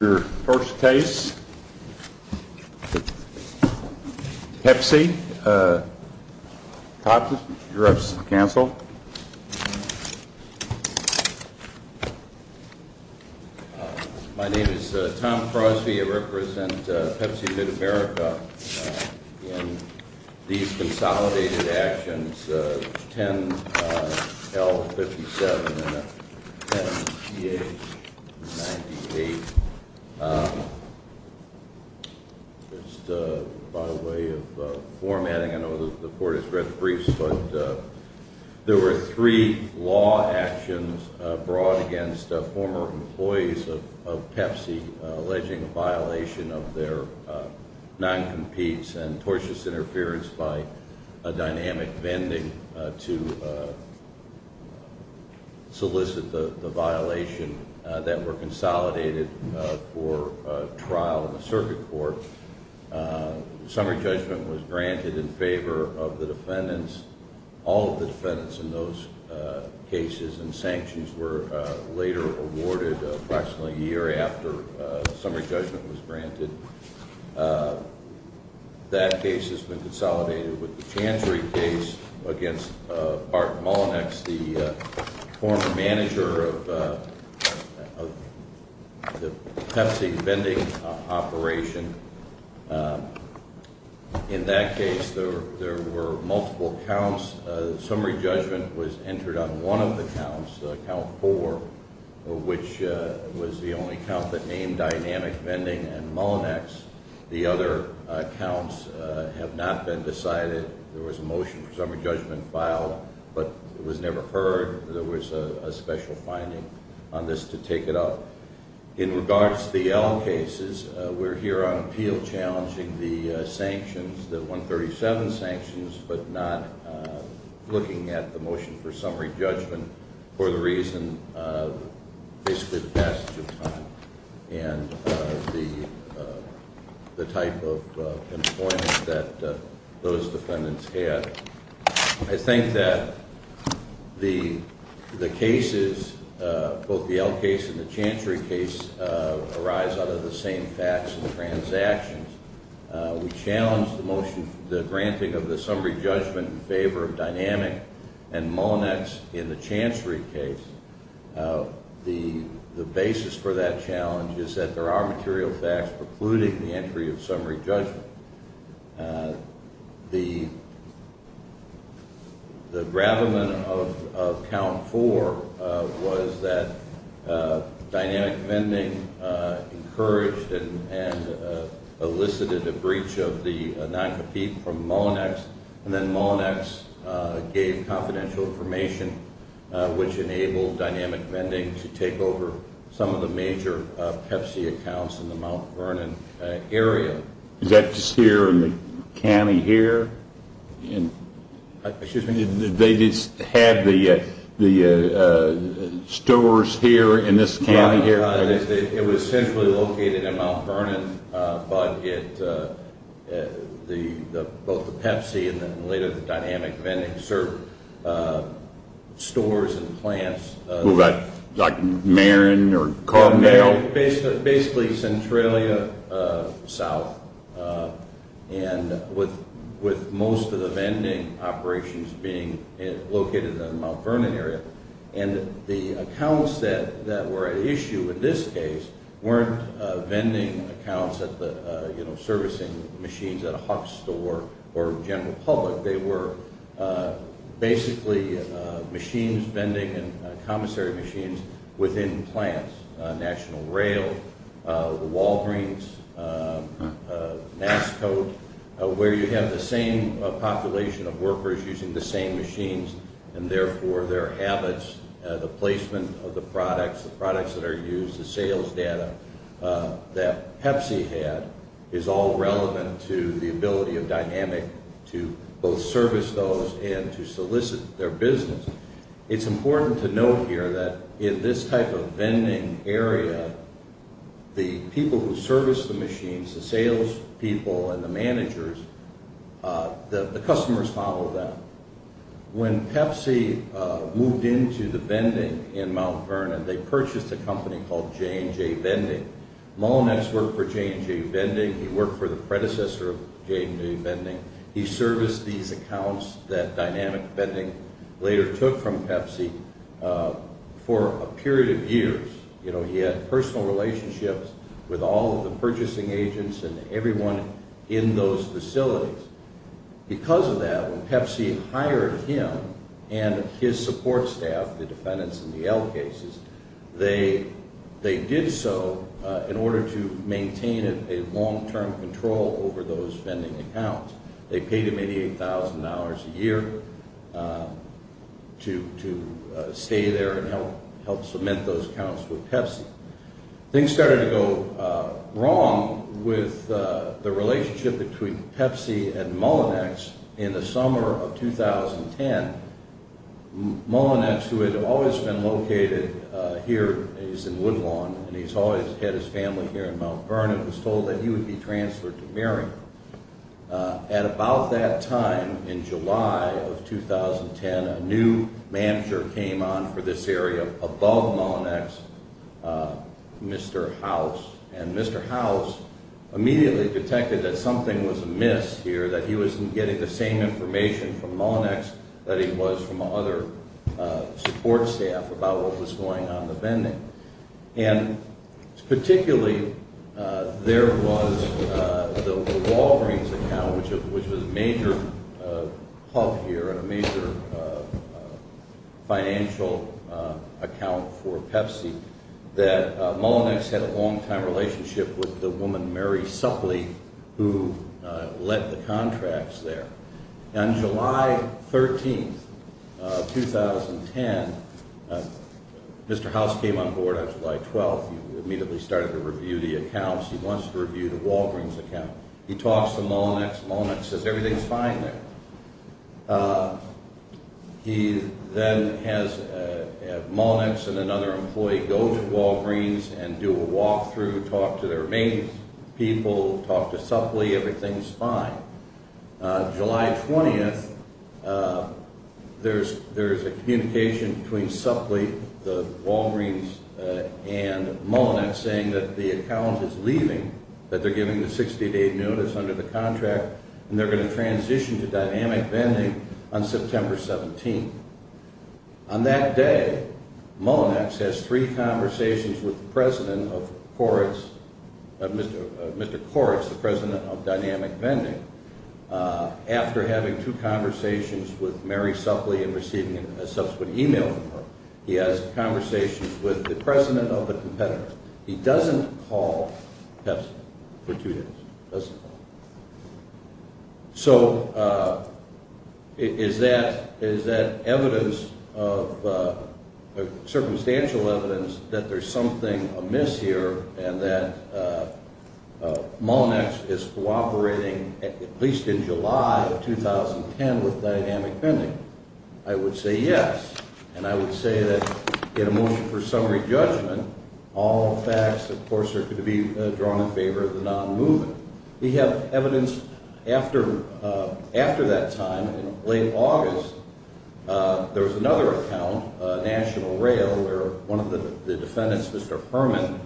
Your first case, Pepsi, Thompson, you're up, counsel. My name is Tom Crosby. I represent Pepsi MidAmerica. In these consolidated actions, 10L57 and 10TH98, just by way of formatting, I know the court has read the briefs, but there were three law actions brought against former employees of Pepsi alleging violation of their non-competes and tortious interference by dynamic vending to solicit the violation that were consolidated for trial in the circuit court. Summary judgment was granted in favor of the defendants. All of the defendants in those cases and sanctions were later awarded approximately a year after summary judgment was granted. That case has been consolidated with the Chantry case against Bart Mullinax, the former manager of the Pepsi vending operation. In that case, there were multiple counts. Summary judgment was entered on one of the counts, count four, which was the only count that named dynamic vending and Mullinax. The other counts have not been decided. There was a motion for summary judgment filed, but it was never heard. There was a special finding on this to take it up. In regards to the L cases, we're here on appeal challenging the sanctions, the 137 sanctions, but not looking at the motion for summary judgment for the reason basically the passage of time and the type of employment that those defendants had. I think that the cases, both the L case and the Chantry case, arise out of the same facts and transactions. We challenge the granting of the summary judgment in favor of dynamic and Mullinax in the Chantry case. The basis for that challenge is that there are material facts precluding the entry of summary judgment. The gravamen of count four was that dynamic vending encouraged and elicited a breach of the non-competent from Mullinax, and then Mullinax gave confidential information, which enabled dynamic vending to take over some of the major Pepsi accounts in the Mount Vernon area. Is that just here in the county here? Excuse me? They just had the stores here in this county here? It was centrally located in Mount Vernon, but both the Pepsi and later the dynamic vending served stores and plants. Like Marin or Carmel? Basically, Centralia South, and with most of the vending operations being located in the Mount Vernon area. The accounts that were at issue in this case weren't vending accounts at the servicing machines at a Huck's store or general public. Basically, machines, vending, and commissary machines within plants. National Rail, the Walgreens, NASCO, where you have the same population of workers using the same machines, and therefore their habits, the placement of the products, the products that are used, the sales data that Pepsi had, is all relevant to the ability of dynamic to both service those and to solicit their business. It's important to note here that in this type of vending area, the people who service the machines, the sales people and the managers, the customers follow them. When Pepsi moved into the vending in Mount Vernon, they purchased a company called J&J Vending. Mullinetz worked for J&J Vending. He worked for the predecessor of J&J Vending. He serviced these accounts that Dynamic Vending later took from Pepsi for a period of years. He had personal relationships with all of the purchasing agents and everyone in those facilities. Because of that, when Pepsi hired him and his support staff, the defendants in the L cases, they did so in order to maintain a long-term control over those vending accounts. They paid him $88,000 a year to stay there and help cement those accounts with Pepsi. Things started to go wrong with the relationship between Pepsi and Mullinetz in the summer of 2010. Mullinetz, who had always been located here, he's in Woodlawn, and he's always had his family here in Mount Vernon, was told that he would be transferred to Marion. At about that time in July of 2010, a new manager came on for this area above Mullinetz, Mr. House. Mr. House immediately detected that something was amiss here, that he wasn't getting the same information from Mullinetz that he was from other support staff about what was going on in the vending. Particularly, there was the Walgreens account, which was a major hub here and a major financial account for Pepsi, that Mullinetz had a long-time relationship with the woman, Mary Suppley, who led the contracts there. On July 13, 2010, Mr. House came on board on July 12. He immediately started to review the accounts. He wants to review the Walgreens account. He talks to Mullinetz. Mullinetz says, everything's fine there. He then has Mullinetz and another employee go to Walgreens and do a walkthrough, talk to their main people, talk to Suppley. Everything's fine. July 20, there's a communication between Suppley, the Walgreens, and Mullinetz saying that the account is leaving, that they're giving the 60-day notice under the contract, and they're going to transition to Dynamic Vending on September 17. On that day, Mullinetz has three conversations with Mr. Koretz, the president of Dynamic Vending. After having two conversations with Mary Suppley and receiving a subsequent email from her, he has conversations with the president of the competitor. He doesn't call Pepsi for two days. Doesn't call. So is that evidence of – circumstantial evidence that there's something amiss here and that Mullinetz is cooperating, at least in July of 2010, with Dynamic Vending? I would say yes, and I would say that in a motion for summary judgment, all facts, of course, are going to be drawn in favor of the non-movement. We have evidence after that time, in late August, there was another account, National Rail, where one of the defendants, Mr. Herman,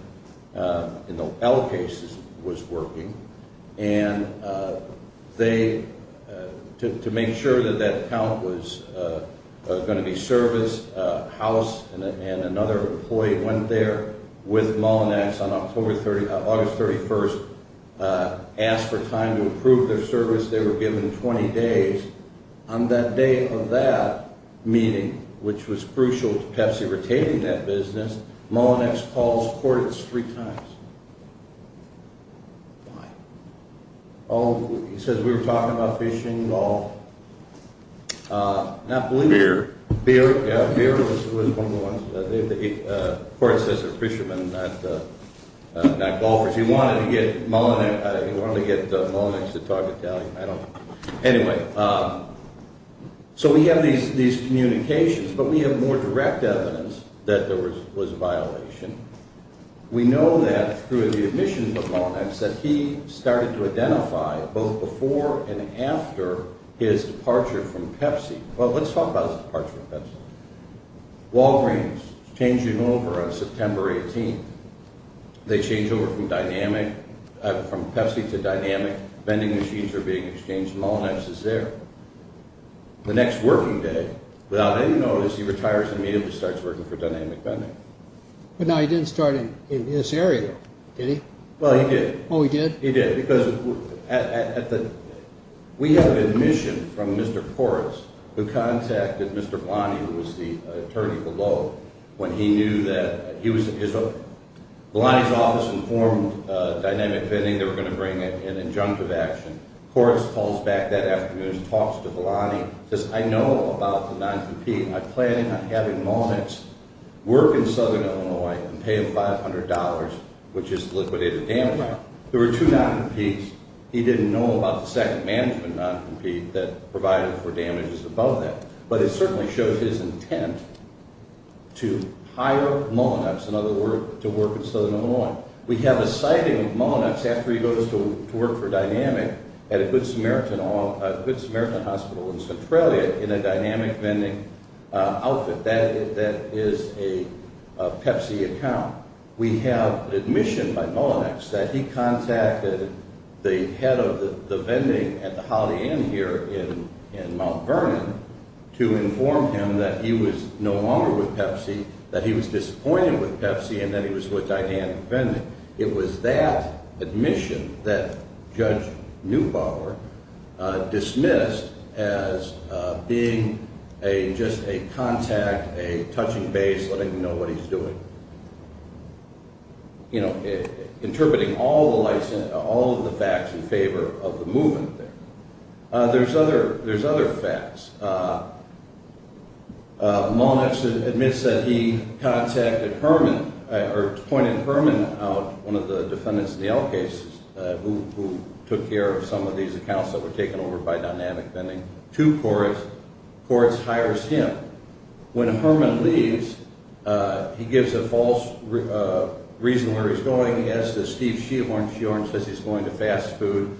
in the L case was working, and they – to make sure that that account was going to be serviced, House and another employee went there with Mullinetz on August 31st, asked for time to approve their service. They were given 20 days. On that day of that meeting, which was crucial to Pepsi retaining that business, Mullinetz calls Koretz three times. Why? Oh, he says we were talking about fishing and golf. Beer. Beer, yeah, beer was one of the ones. Koretz says they're fishermen, not golfers. He wanted to get Mullinetz to talk Italian. Anyway, so we have these communications, but we have more direct evidence that there was a violation. We know that through the admissions of Mullinetz that he started to identify, both before and after his departure from Pepsi – well, let's talk about his departure from Pepsi. Walgreens changing over on September 18th. They change over from Pepsi to Dynamic. Vending machines are being exchanged. Mullinetz is there. The next working day, without any notice, he retires and immediately starts working for Dynamic Vending. But now he didn't start in this area, did he? Well, he did. Oh, he did? He did, because we had an admission from Mr. Koretz who contacted Mr. Vellani, who was the attorney below, when he knew that – Vellani's office informed Dynamic Vending they were going to bring an injunctive action. Koretz calls back that afternoon and talks to Vellani and says, I know about the non-competing. I plan on having Mullinetz work in southern Illinois and pay him $500, which is liquidated damages. There were two non-competes. He didn't know about the second management non-compete that provided for damages above that. But it certainly shows his intent to hire Mullinetz, in other words, to work in southern Illinois. We have a sighting of Mullinetz after he goes to work for Dynamic at a Good Samaritan hospital in Centralia in a Dynamic Vending outfit. That is a Pepsi account. We have an admission by Mullinetz that he contacted the head of the vending at the Holiday Inn here in Mount Vernon to inform him that he was no longer with Pepsi, that he was disappointed with Pepsi, and that he was with Dynamic Vending. It was that admission that Judge Neubauer dismissed as being just a contact, a touching base, letting him know what he's doing. You know, interpreting all of the facts in favor of the movement there. There's other facts. Mullinetz admits that he contacted Herman or pointed Herman out, one of the defendants in the L cases, who took care of some of these accounts that were taken over by Dynamic Vending, to Koritz. Koritz hires him. When Herman leaves, he gives a false reason where he's going. He adds to Steve Sheohorn. Sheohorn says he's going to fast food.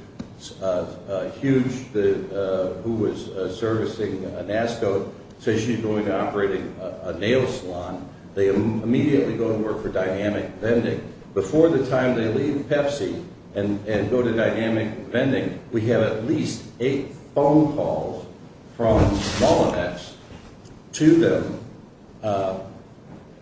Hughes, who was servicing NASCO, says she's going to operate a nail salon. They immediately go and work for Dynamic Vending. Before the time they leave Pepsi and go to Dynamic Vending, we have at least eight phone calls from Mullinetz to them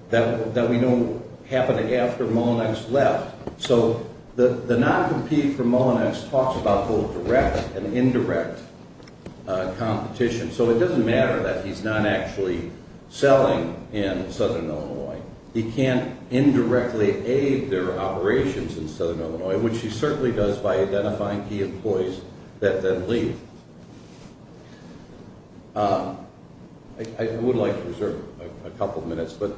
that we know happened after Mullinetz left. So the non-compete for Mullinetz talks about both direct and indirect competition. So it doesn't matter that he's not actually selling in southern Illinois. He can't indirectly aid their operations in southern Illinois, which he certainly does by identifying key employees that then leave. I would like to reserve a couple minutes, but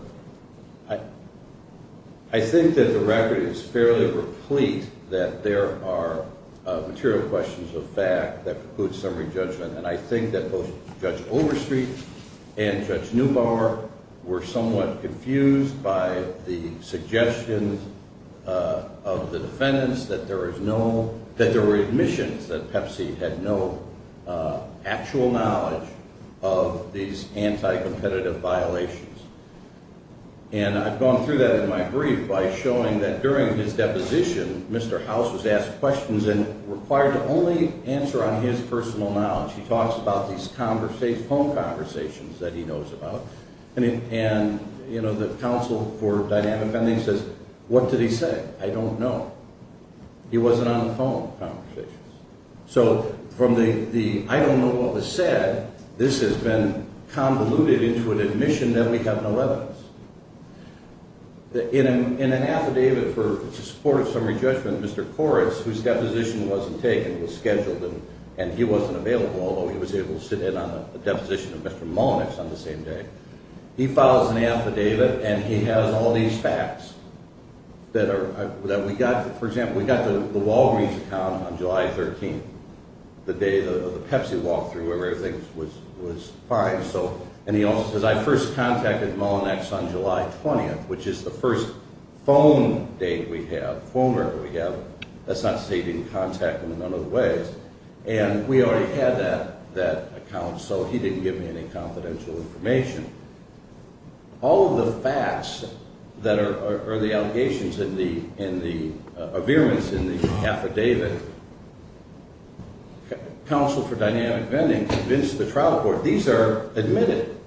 I think that the record is fairly replete that there are material questions of fact that preclude summary judgment. And I think that both Judge Overstreet and Judge Neubauer were somewhat confused by the suggestions of the defendants that there were admissions that Pepsi had no actual knowledge of these anti-competitive violations. And I've gone through that in my brief by showing that during his deposition, Mr. House was asked questions and required to only answer on his personal knowledge. He talks about these phone conversations that he knows about. And, you know, the counsel for Dynamic Vending says, what did he say? I don't know. He wasn't on the phone conversations. So from the I don't know what was said, this has been convoluted into an admission that we have no evidence. In an affidavit for support of summary judgment, Mr. Koretz, whose deposition wasn't taken, was scheduled and he wasn't available, although he was able to sit in on the deposition of Mr. Mullinetz on the same day, he files an affidavit and he has all these facts that we got. For example, we got the Walgreens account on July 13th, the day the Pepsi walkthrough, where everything was fine. And he also says, I first contacted Mullinetz on July 20th, which is the first phone date we have, phone record we have. Let's not say he didn't contact him in none of the ways. And we already had that account, so he didn't give me any confidential information. All of the facts that are the allegations in the, in the, are virements in the affidavit, counsel for Dynamic Vending convinced the trial court, these are admitted.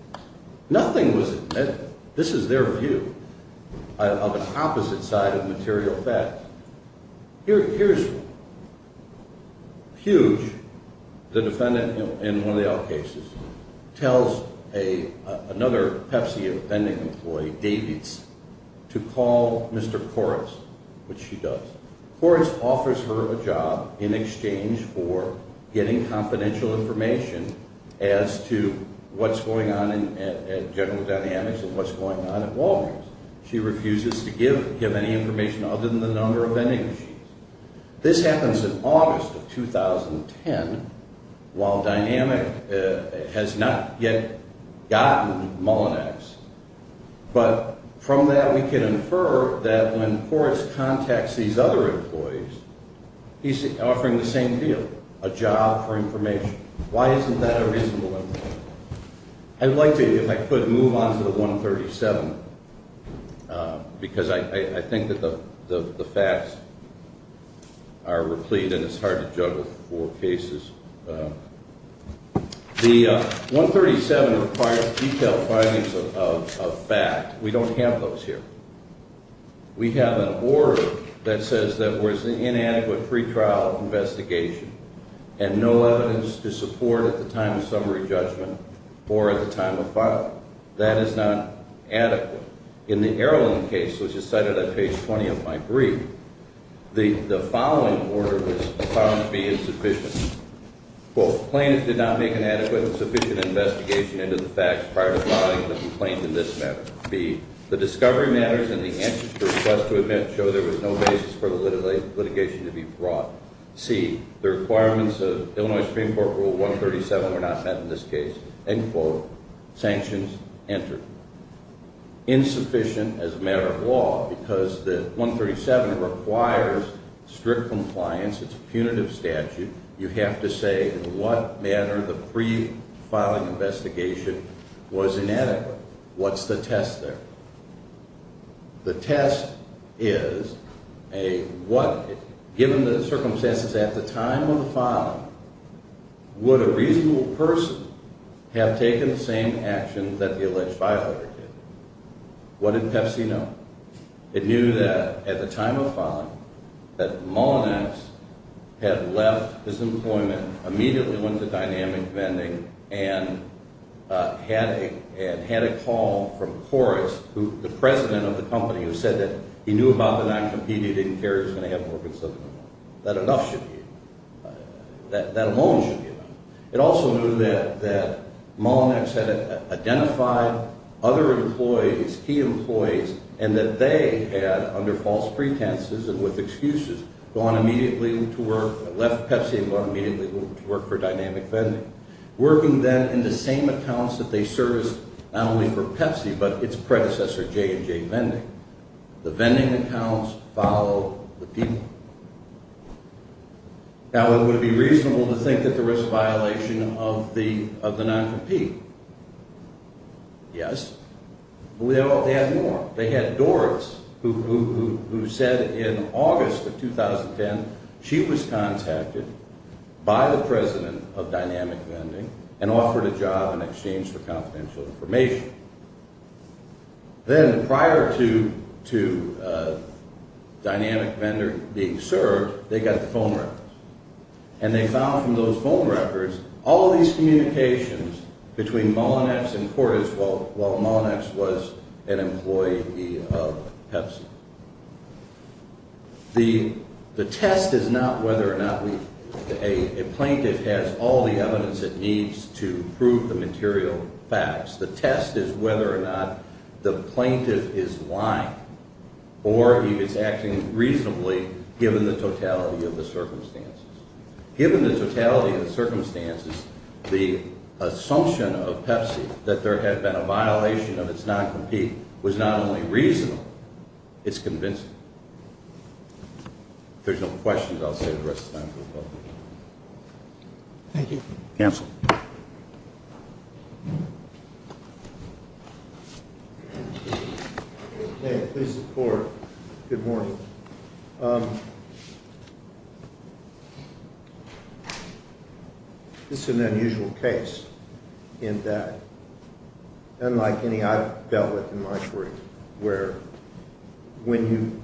Nothing was admitted. This is their view of an opposite side of material facts. Here's one. Hughes, the defendant in one of the L cases, tells another Pepsi vending employee, Davids, to call Mr. Koretz, which she does. Koretz offers her a job in exchange for getting confidential information as to what's going on at General Dynamics and what's going on at Walgreens. She refuses to give any information other than the number of vending machines. This happens in August of 2010, while Dynamic has not yet gotten Mullinetz. But from that, we can infer that when Koretz contacts these other employees, he's offering the same deal, a job for information. Why isn't that a reasonable employment? I'd like to, if I could, move on to the 137, because I think that the facts are replete and it's hard to juggle four cases. The 137 requires detailed findings of fact. We don't have those here. We have an order that says there was an inadequate pretrial investigation and no evidence to support at the time of summary judgment or at the time of filing. That is not adequate. In the Erland case, which is cited on page 20 of my brief, the following order was found to be insufficient. Quote, plaintiffs did not make an adequate and sufficient investigation into the facts prior to filing the complaint in this manner. B, the discovery matters and the answers to requests to admit show there was no basis for the litigation to be brought. C, the requirements of Illinois Supreme Court Rule 137 were not met in this case. End quote. Sanctions entered. Insufficient as a matter of law because the 137 requires strict compliance. It's a punitive statute. You have to say in what manner the pre-filing investigation was inadequate. What's the test there? The test is a what, given the circumstances at the time of the filing, would a reasonable person have taken the same actions that the alleged filer did? What did PEPC know? It knew that at the time of filing, that Mullinex had left his employment, immediately went to dynamic vending, and had a call from Korres, the president of the company, who said that he knew about the non-competitive, didn't care if he was going to have more consumers. That enough should be enough. That alone should be enough. It also knew that Mullinex had identified other employees, key employees, and that they had, under false pretenses and with excuses, gone immediately to work, left PEPC and went immediately to work for dynamic vending, working then in the same accounts that they serviced not only for PEPC but its predecessor, J&J Vending. The vending accounts follow the people. Now, would it be reasonable to think that there was a violation of the non-compete? Yes. Well, they had more. They had Doris, who said in August of 2010 she was contacted by the president of dynamic vending and offered a job in exchange for confidential information. Then, prior to dynamic vending being served, they got the phone records, and they found from those phone records all these communications between Mullinex and Korres while Mullinex was an employee of PEPC. The test is not whether or not a plaintiff has all the evidence it needs to prove the material facts. The test is whether or not the plaintiff is lying or he is acting reasonably given the totality of the circumstances. Given the totality of the circumstances, the assumption of PEPC that there had been a violation of its non-compete was not only reasonable, it's convincing. If there's no questions, I'll save the rest of the time for the public. Thank you. Counsel. Please sit forward. Good morning. This is an unusual case in that, unlike any I've dealt with in my career, where when you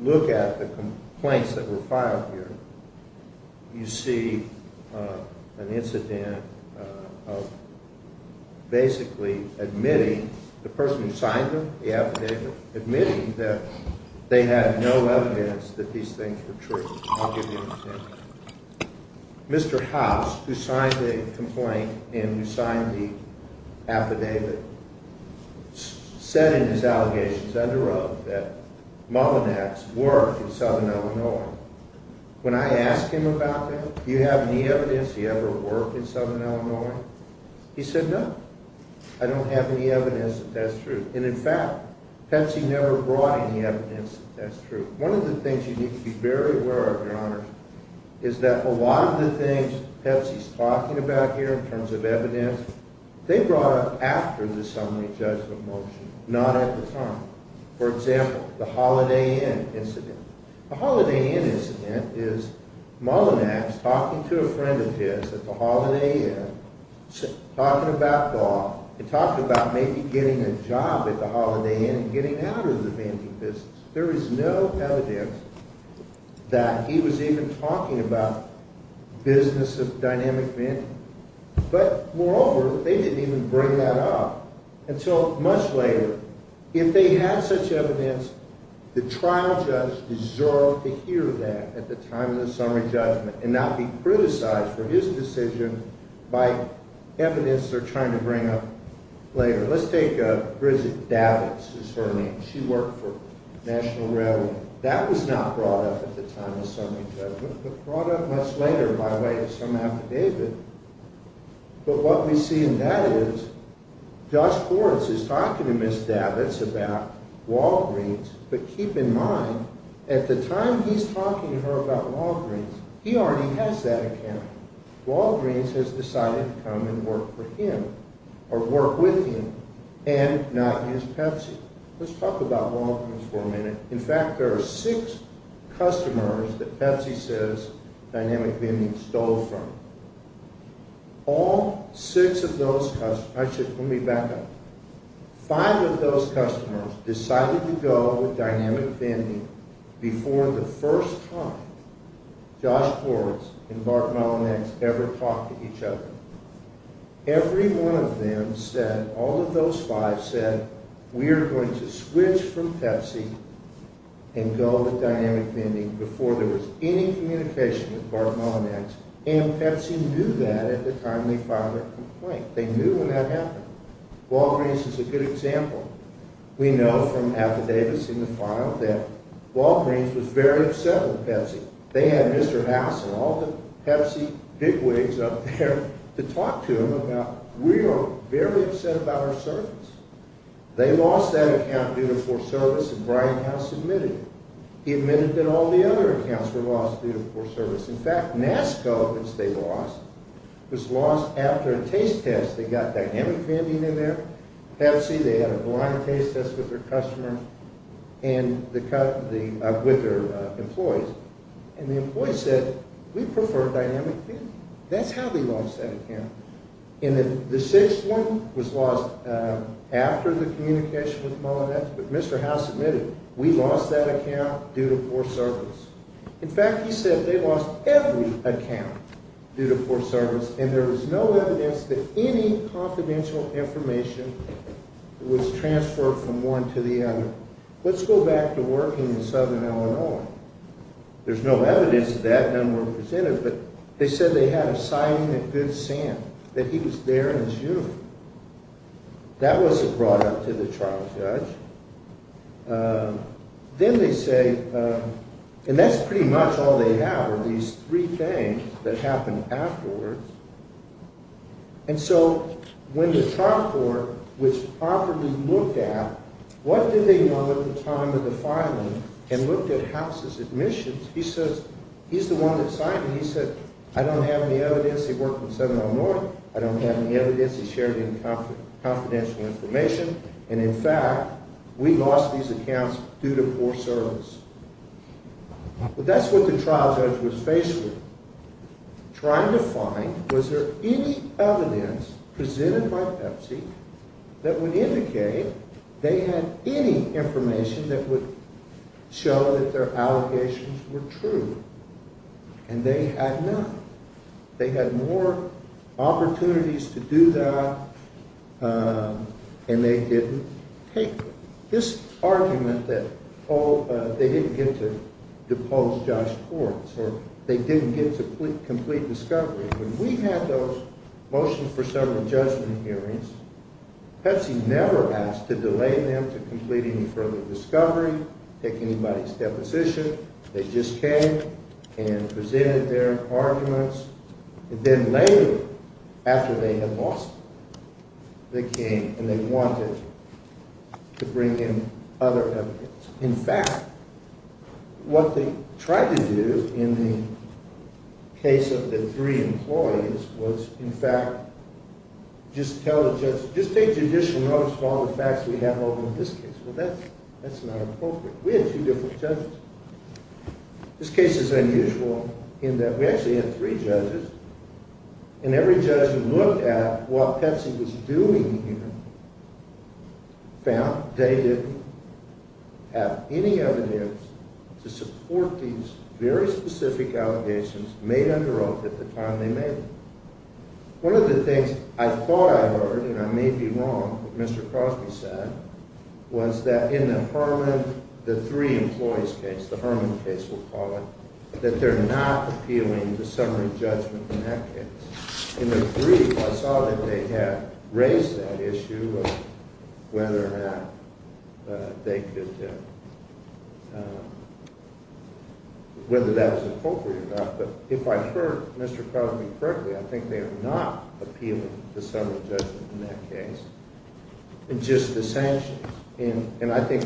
look at the complaints that were filed here, you see an incident of basically admitting the person who signed them, the affidavit, admitting that they had no evidence that these things were true. I'll give you an example. Mr. House, who signed the complaint and who signed the affidavit, said in his allegations under oath that Mullinex worked in Southern Illinois. When I asked him about that, do you have any evidence he ever worked in Southern Illinois, he said, no, I don't have any evidence that that's true. And, in fact, PEPC never brought any evidence that that's true. One of the things you need to be very aware of, Your Honors, is that a lot of the things PEPC's talking about here in terms of evidence, they brought up after the summary judgment motion, not at the time. For example, the Holiday Inn incident. The Holiday Inn incident is Mullinex talking to a friend of his at the Holiday Inn, talking about law, and talking about maybe getting a job at the Holiday Inn and getting out of the vending business. There is no evidence that he was even talking about the business of dynamic vending. But, moreover, they didn't even bring that up until much later. If they had such evidence, the trial judge deserved to hear that at the time of the summary judgment and not be criticized for his decision by evidence they're trying to bring up later. Let's take Bridget Davitz is her name. She worked for National Railroad. That was not brought up at the time of summary judgment, but brought up much later by way of some affidavit. But what we see in that is, Josh Hortz is talking to Ms. Davitz about Walgreens, but keep in mind, at the time he's talking to her about Walgreens, he already has that account. Walgreens has decided to come and work for him or work with him and not use Pepsi. Let's talk about Walgreens for a minute. In fact, there are six customers that Pepsi says dynamic vending stole from. All six of those customers, actually, let me back up. Five of those customers decided to go with dynamic vending before the first time Josh Hortz and Bart Malonex ever talked to each other. Every one of them said, all of those five said, we are going to switch from Pepsi and go with dynamic vending before there was any communication with Bart Malonex, and Pepsi knew that at the time they filed their complaint. They knew when that happened. Walgreens is a good example. We know from affidavits in the file that Walgreens was very upset with Pepsi. They had Mr. House and all the Pepsi bigwigs up there to talk to him about, we are very upset about our service. They lost that account due to poor service, and Brian House admitted it. He admitted that all the other accounts were lost due to poor service. In fact, NASCO, which they lost, was lost after a taste test. They got dynamic vending in there. Pepsi, they had a blind taste test with their customers and with their employees, and the employees said, we prefer dynamic vending. That's how they lost that account. And the sixth one was lost after the communication with Malonex, but Mr. House admitted, we lost that account due to poor service. In fact, he said they lost every account due to poor service, and there was no evidence that any confidential information was transferred from one to the other. Let's go back to working in southern Illinois. There's no evidence of that, none were presented, but they said they had a sign in Good Sam that he was there in his uniform. That wasn't brought up to the trial judge. Then they say, and that's pretty much all they have, are these three things that happened afterwards, and so when the trial court was properly looked at, what did they know at the time of the filing and looked at House's admissions? He says, he's the one that signed it. He said, I don't have any evidence. He worked in southern Illinois. I don't have any evidence. He shared any confidential information, and in fact, we lost these accounts due to poor service. But that's what the trial judge was faced with, trying to find was there any evidence presented by Pepsi that would indicate they had any information that would show that their allegations were true, and they had none. They had more opportunities to do that, and they didn't take them. This argument that they didn't get to depose Josh Kortz, or they didn't get to complete discovery, when we had those motions for several judgment hearings, Pepsi never asked to delay them to complete any further discovery, take anybody's deposition. They just came and presented their arguments, and then later, after they had lost them, they came and they wanted to bring in other evidence. In fact, what they tried to do in the case of the three employees was, in fact, just tell the judge, just take judicial notice of all the facts we have over in this case. Well, that's not appropriate. We had two different judges. This case is unusual in that we actually had three judges, and every judge who looked at what Pepsi was doing here found they didn't have any evidence to support these very specific allegations made under oath at the time they made them. One of the things I thought I heard, and I may be wrong, what Mr. Crosby said was that in the Herman, the three employees case, the Herman case we'll call it, that they're not appealing the summary judgment in that case. In the brief, I saw that they had raised that issue of whether or not they could, whether that was appropriate or not, but if I heard Mr. Crosby correctly, I think they are not appealing the summary judgment in that case, and just the sanctions, and I think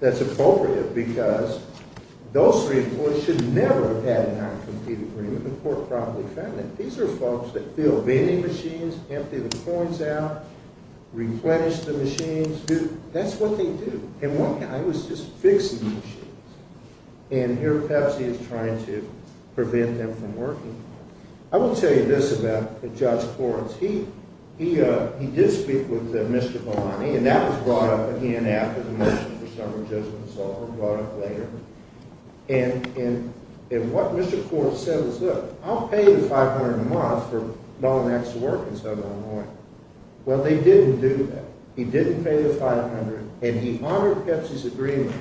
that's appropriate because those three employees should never have had an uncompleted agreement with the court probably found it. These are folks that fill vending machines, empty the coins out, replenish the machines. That's what they do. And one guy was just fixing the machines, and here Pepsi is trying to prevent them from working. I will tell you this about Judge Forrest. He did speak with Mr. Malani, and that was brought up again after the mission for summary judgment was over, brought up later, and what Mr. Forrest said was, look, I'll pay the $500 a month for Malanax to work in Southern Illinois. Well, they didn't do that. He didn't pay the $500, and he honored Pepsi's agreement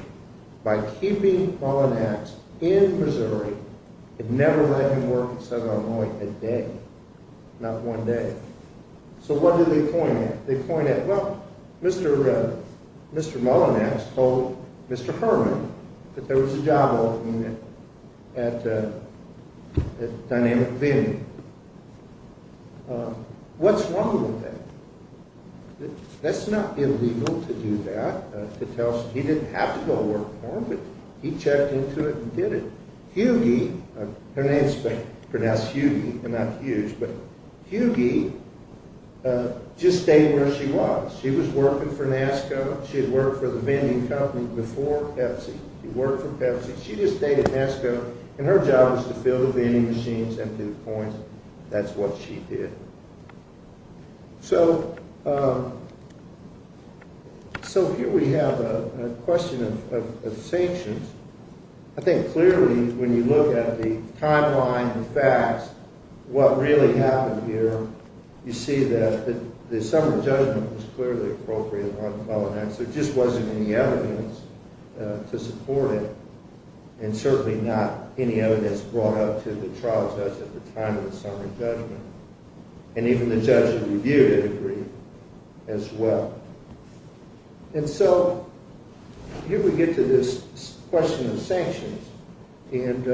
by keeping Malanax in Missouri and never let him work in Southern Illinois a day, not one day. So what do they point at? They point at, well, Mr. Malanax told Mr. Herman that there was a job opening at Dynamic Avenue. What's wrong with that? That's not illegal to do that. He didn't have to go work for them, but he checked into it and did it. Hughie, her name is pronounced Hughie and not Hughes, but Hughie just stayed where she was. She was working for NASCO. She had worked for the vending company before Pepsi. She worked for Pepsi. She just stayed at NASCO, and her job was to fill the vending machines and do coins. That's what she did. So here we have a question of sanctions. I think clearly when you look at the timeline and facts, what really happened here, you see that the summary judgment was clearly appropriate on Malanax. There just wasn't any evidence to support it and certainly not any evidence brought up to the trial judge at the time of the summary judgment, and even the judge who reviewed it agreed as well. And so here we get to this question of sanctions, and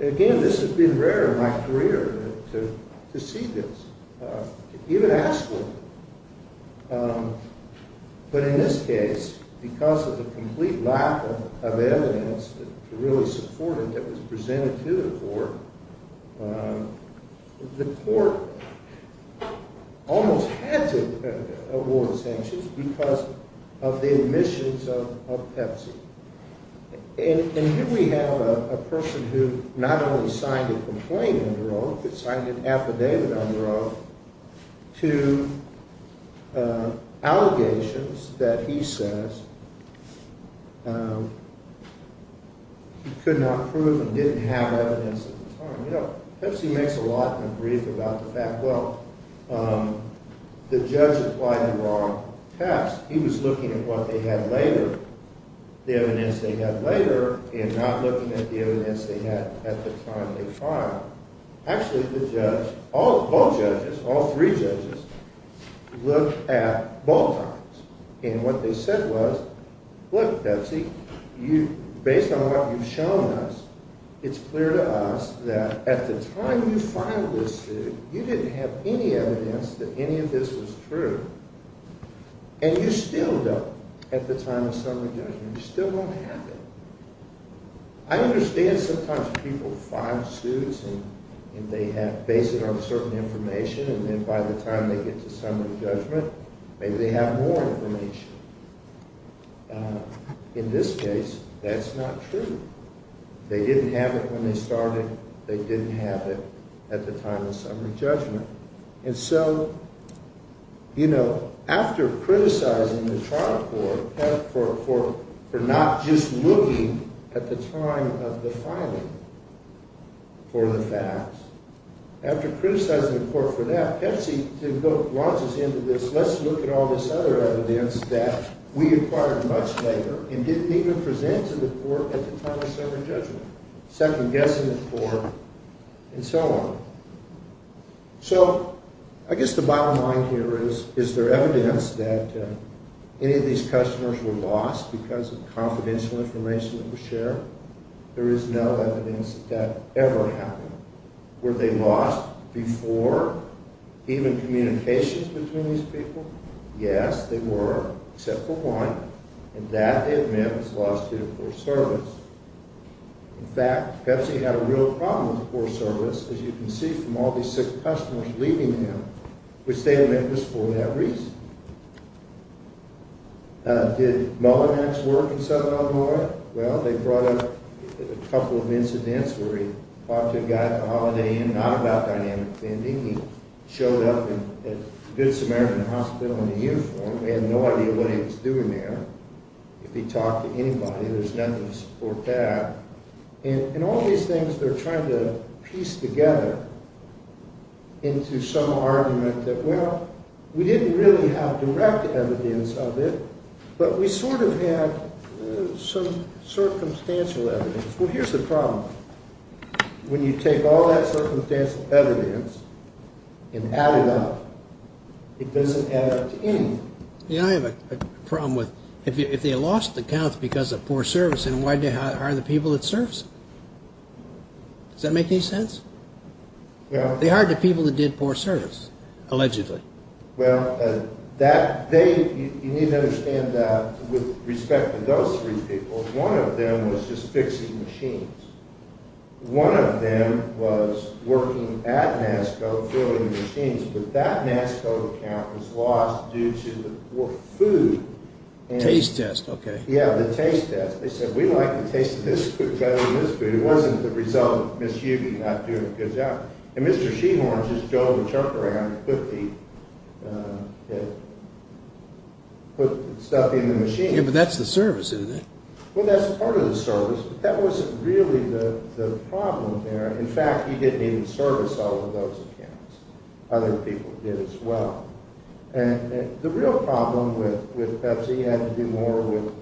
again, this has been rare in my career to see this, even at school. But in this case, because of the complete lack of evidence to really support it that was presented to the court, the court almost had to award sanctions because of the omissions of Pepsi. And here we have a person who not only signed a complaint under oath, but signed an affidavit under oath to allegations that he says he could not prove and didn't have evidence at the time. You know, Pepsi makes a lot of grief about the fact, well, the judge applied the wrong test. He was looking at what they had later, the evidence they had later, and not looking at the evidence they had at the time of the trial. Actually, the judge, all judges, all three judges, looked at both times, and what they said was, look, Pepsi, based on what you've shown us, it's clear to us that at the time you filed this suit, you didn't have any evidence that any of this was true, and you still don't at the time of summary judgment. You still don't have it. I understand sometimes people file suits, and they base it on certain information, and then by the time they get to summary judgment, maybe they have more information. In this case, that's not true. They didn't have it when they started. They didn't have it at the time of summary judgment. And so, you know, after criticizing the trial court for not just looking at the time of the filing for the facts, after criticizing the court for that, Pepsi launches into this, let's look at all this other evidence that we acquired much later and didn't even present to the court at the time of summary judgment, second-guessing the court, and so on. So I guess the bottom line here is, is there evidence that any of these customers were lost because of confidential information that was shared? There is no evidence that that ever happened. Were they lost before even communications between these people? Yes, they were, except for one, and that event was lost due to poor service. In fact, Pepsi had a real problem with poor service, as you can see from all these sick customers leaving them, which they admit was for that reason. Did Mellon X work in Southern Illinois? Well, they brought up a couple of incidents where he talked to a guy at the Holiday Inn, not about dynamic vending. He showed up at Good Samaritan Hospital in a uniform. They had no idea what he was doing there. If he talked to anybody, there's nothing to support that. And all these things, they're trying to piece together into some argument that, well, we didn't really have direct evidence of it, but we sort of had some circumstantial evidence. Well, here's the problem. When you take all that circumstantial evidence and add it up, it doesn't add up to anything. You know, I have a problem with if they lost the count because of poor service, then why did they hire the people that served them? Does that make any sense? They hired the people that did poor service, allegedly. Well, you need to understand that with respect to those three people, one of them was just fixing machines. One of them was working at NASCO filling machines, but that NASCO account was lost due to the poor food. Taste test, okay. Yeah, the taste test. They said, we like the taste of this food better than this food. It wasn't the result of Ms. Hubie not doing a good job. And Mr. Sheehorn just drove and chucked around and put the stuff in the machine. Yeah, but that's the service, isn't it? Well, that's part of the service, but that wasn't really the problem there. In fact, he didn't even service all of those accounts. Other people did as well. And the real problem with Pepsi had to do more with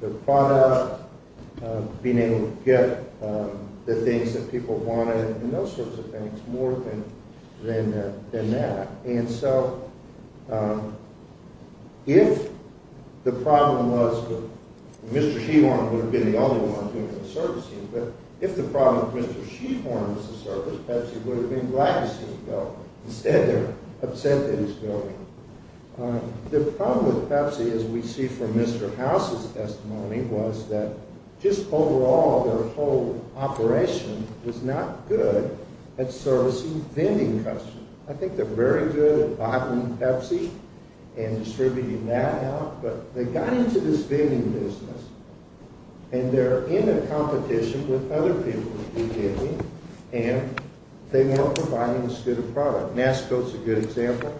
the product, being able to get the things that people wanted and those sorts of things, more than that. And so if the problem was that Mr. Sheehorn would have been the only one doing the servicing, but if the problem was that Mr. Sheehorn was the service, Pepsi would have been glad to see them go. Instead, they're upset that he's going. The problem with Pepsi, as we see from Mr. House's testimony, was that just overall their whole operation was not good at servicing vending customers. I think they're very good at buying Pepsi and distributing that out, but they got into this vending business, and they're in a competition with other people who do vending, and they weren't providing as good a product. Nasco is a good example.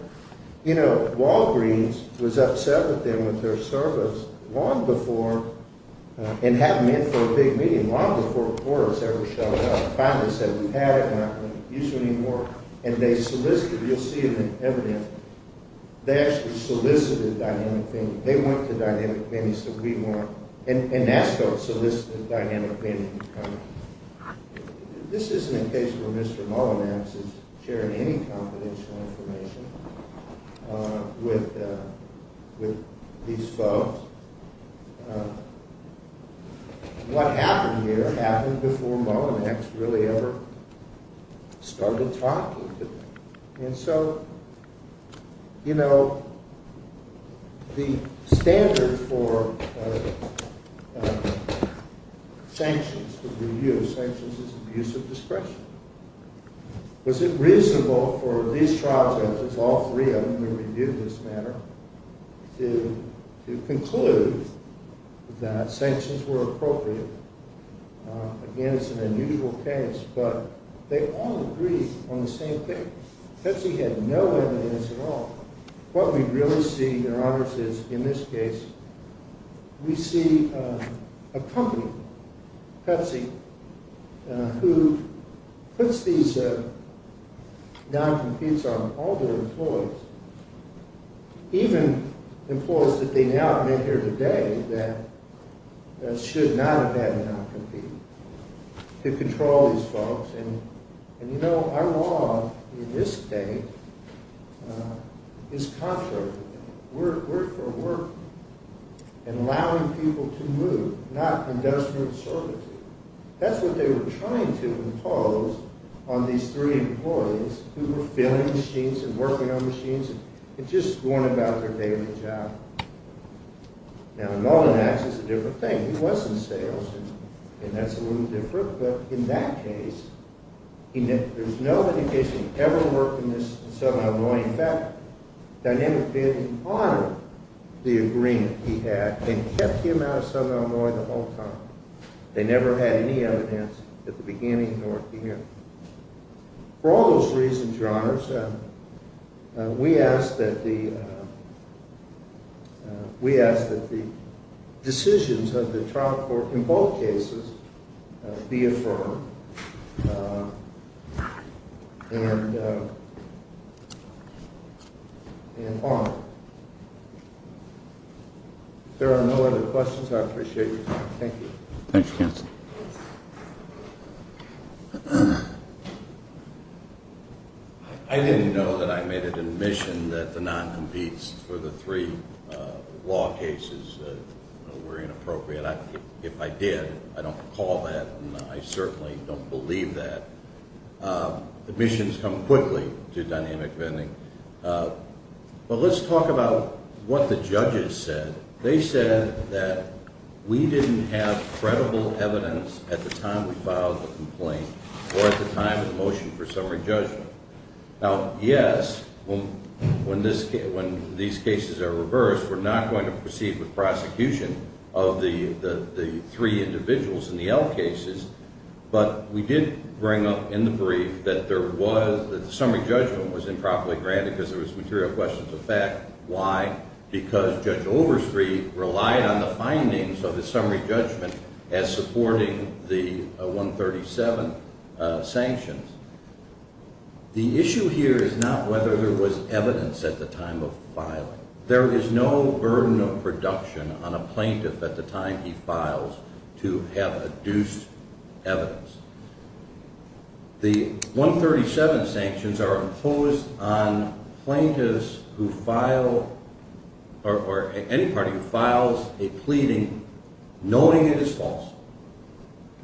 You know, Walgreens was upset with them with their service long before, and had them in for a big meeting, long before quarters ever showed up. Finally said, we've had it, and we're not going to use you anymore. And they solicited, you'll see in the evidence, they actually solicited Dynamic Vending. They went to Dynamic Vending, and Nasco solicited Dynamic Vending. This isn't a case where Mr. Mullinax is sharing any confidential information with these folks. What happened here happened before Mullinax really ever started talking to them. And so, you know, the standard for sanctions, the review of sanctions, is abuse of discretion. Was it reasonable for these trial judges, all three of them who reviewed this matter, to conclude that sanctions were appropriate? Again, it's an unusual case, but they all agreed on the same thing. Pepsi had no evidence at all. What we really see, Your Honors, is in this case, we see a company, Pepsi, who puts these non-competes on all their employees, even employees that they now admit here today that should not have had a non-compete, to control these folks. And, you know, our law in this state is contrary. We're for work and allowing people to move, not industrial servitude. That's what they were trying to impose on these three employees who were filling machines and working on machines and just going about their daily job. Now, Mullinax is a different thing. He was in sales, and that's a little different. But in that case, there's no indication he ever worked in Southern Illinois. In fact, Dynamic Bidding honored the agreement he had and kept him out of Southern Illinois the whole time. They never had any evidence at the beginning nor at the end. For all those reasons, Your Honors, we ask that the decisions of the trial court, in both cases, be affirmed and honored. If there are no other questions, I appreciate your time. Thank you. Thank you, counsel. I didn't know that I made an admission that the non-competes for the three law cases were inappropriate. If I did, I don't recall that, and I certainly don't believe that. Admissions come quickly to Dynamic Bidding. But let's talk about what the judges said. They said that we didn't have credible evidence at the time we filed the complaint or at the time of the motion for summary judgment. Now, yes, when these cases are reversed, we're not going to proceed with prosecution of the three individuals in the L cases. But we did bring up in the brief that the summary judgment was improperly granted because there was material questions of fact. Why? Because Judge Overstreet relied on the findings of the summary judgment as supporting the 137 sanctions. The issue here is not whether there was evidence at the time of filing. There is no burden of production on a plaintiff at the time he files to have adduced evidence. The 137 sanctions are imposed on plaintiffs who file, or any party who files a pleading, knowing it is false.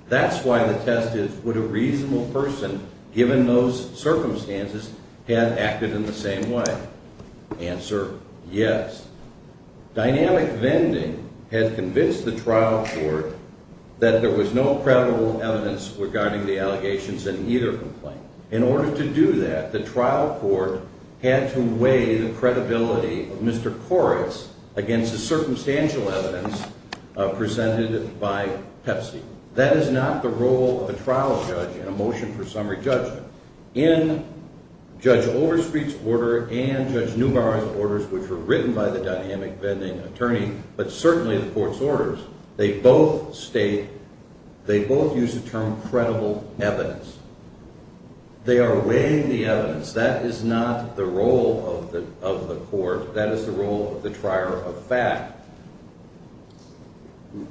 That's why the test is, would a reasonable person, given those circumstances, have acted in the same way? Answer, yes. Dynamic Vending had convinced the trial court that there was no credible evidence regarding the allegations in either complaint. In order to do that, the trial court had to weigh the credibility of Mr. Koretz against the circumstantial evidence presented by Pepsi. That is not the role of a trial judge in a motion for summary judgment. In Judge Overstreet's order and Judge Neubauer's orders, which were written by the Dynamic Vending attorney, but certainly the court's orders, they both state, they both use the term credible evidence. They are weighing the evidence. That is not the role of the court. That is the role of the trier of fact.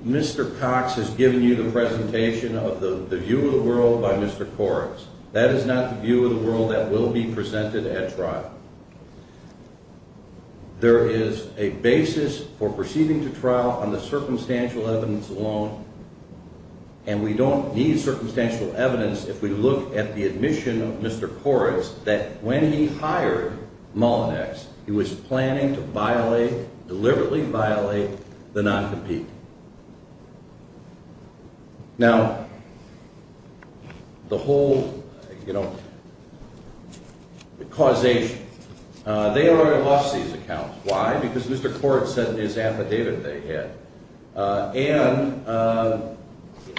Mr. Cox has given you the presentation of the view of the world by Mr. Koretz. That is not the view of the world that will be presented at trial. There is a basis for proceeding to trial on the circumstantial evidence alone, and we don't need circumstantial evidence if we look at the admission of Mr. Koretz that when he hired Mullinex, he was planning to violate, deliberately violate, the non-compete. Now, the whole, you know, causation, they already lost these accounts. Why? Because Mr. Koretz sent his affidavit they had. And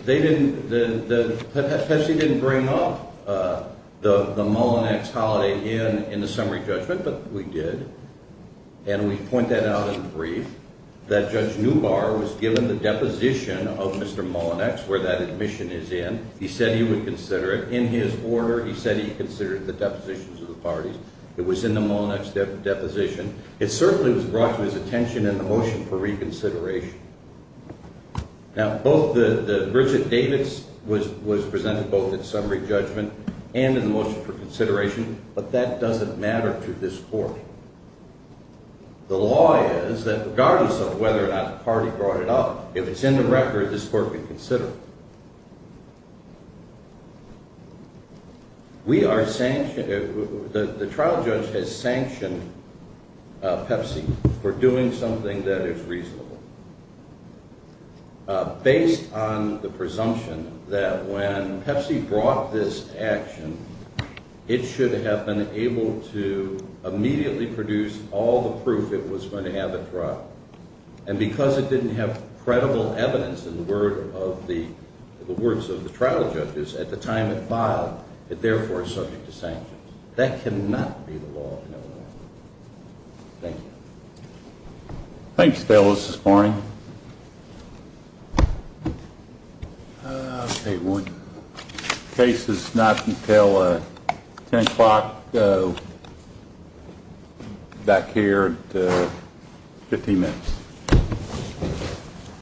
they didn't, Pepsi didn't bring up the Mullinex holiday in the summary judgment, but we did. And we point that out in brief, that Judge Neubauer was given the deposition of Mr. Mullinex, where that admission is in. He said he would consider it in his order. He said he considered the depositions of the parties. It was in the Mullinex deposition. It certainly was brought to his attention in the motion for reconsideration. Now, both the, Richard Davis was presented both in summary judgment and in the motion for consideration, but that doesn't matter to this court. The law is that regardless of whether or not the party brought it up, if it's in the record, this court would consider it. We are sanctioned, the trial judge has sanctioned Pepsi for doing something that is reasonable. Based on the presumption that when Pepsi brought this action, it should have been able to immediately produce all the proof it was going to have it brought. And because it didn't have credible evidence in the words of the trial judges at the time it filed, it therefore is subject to sanctions. That cannot be the law of no one. Thanks, fellas, this morning. Okay. Case is not until 10 o'clock back here at 15 minutes.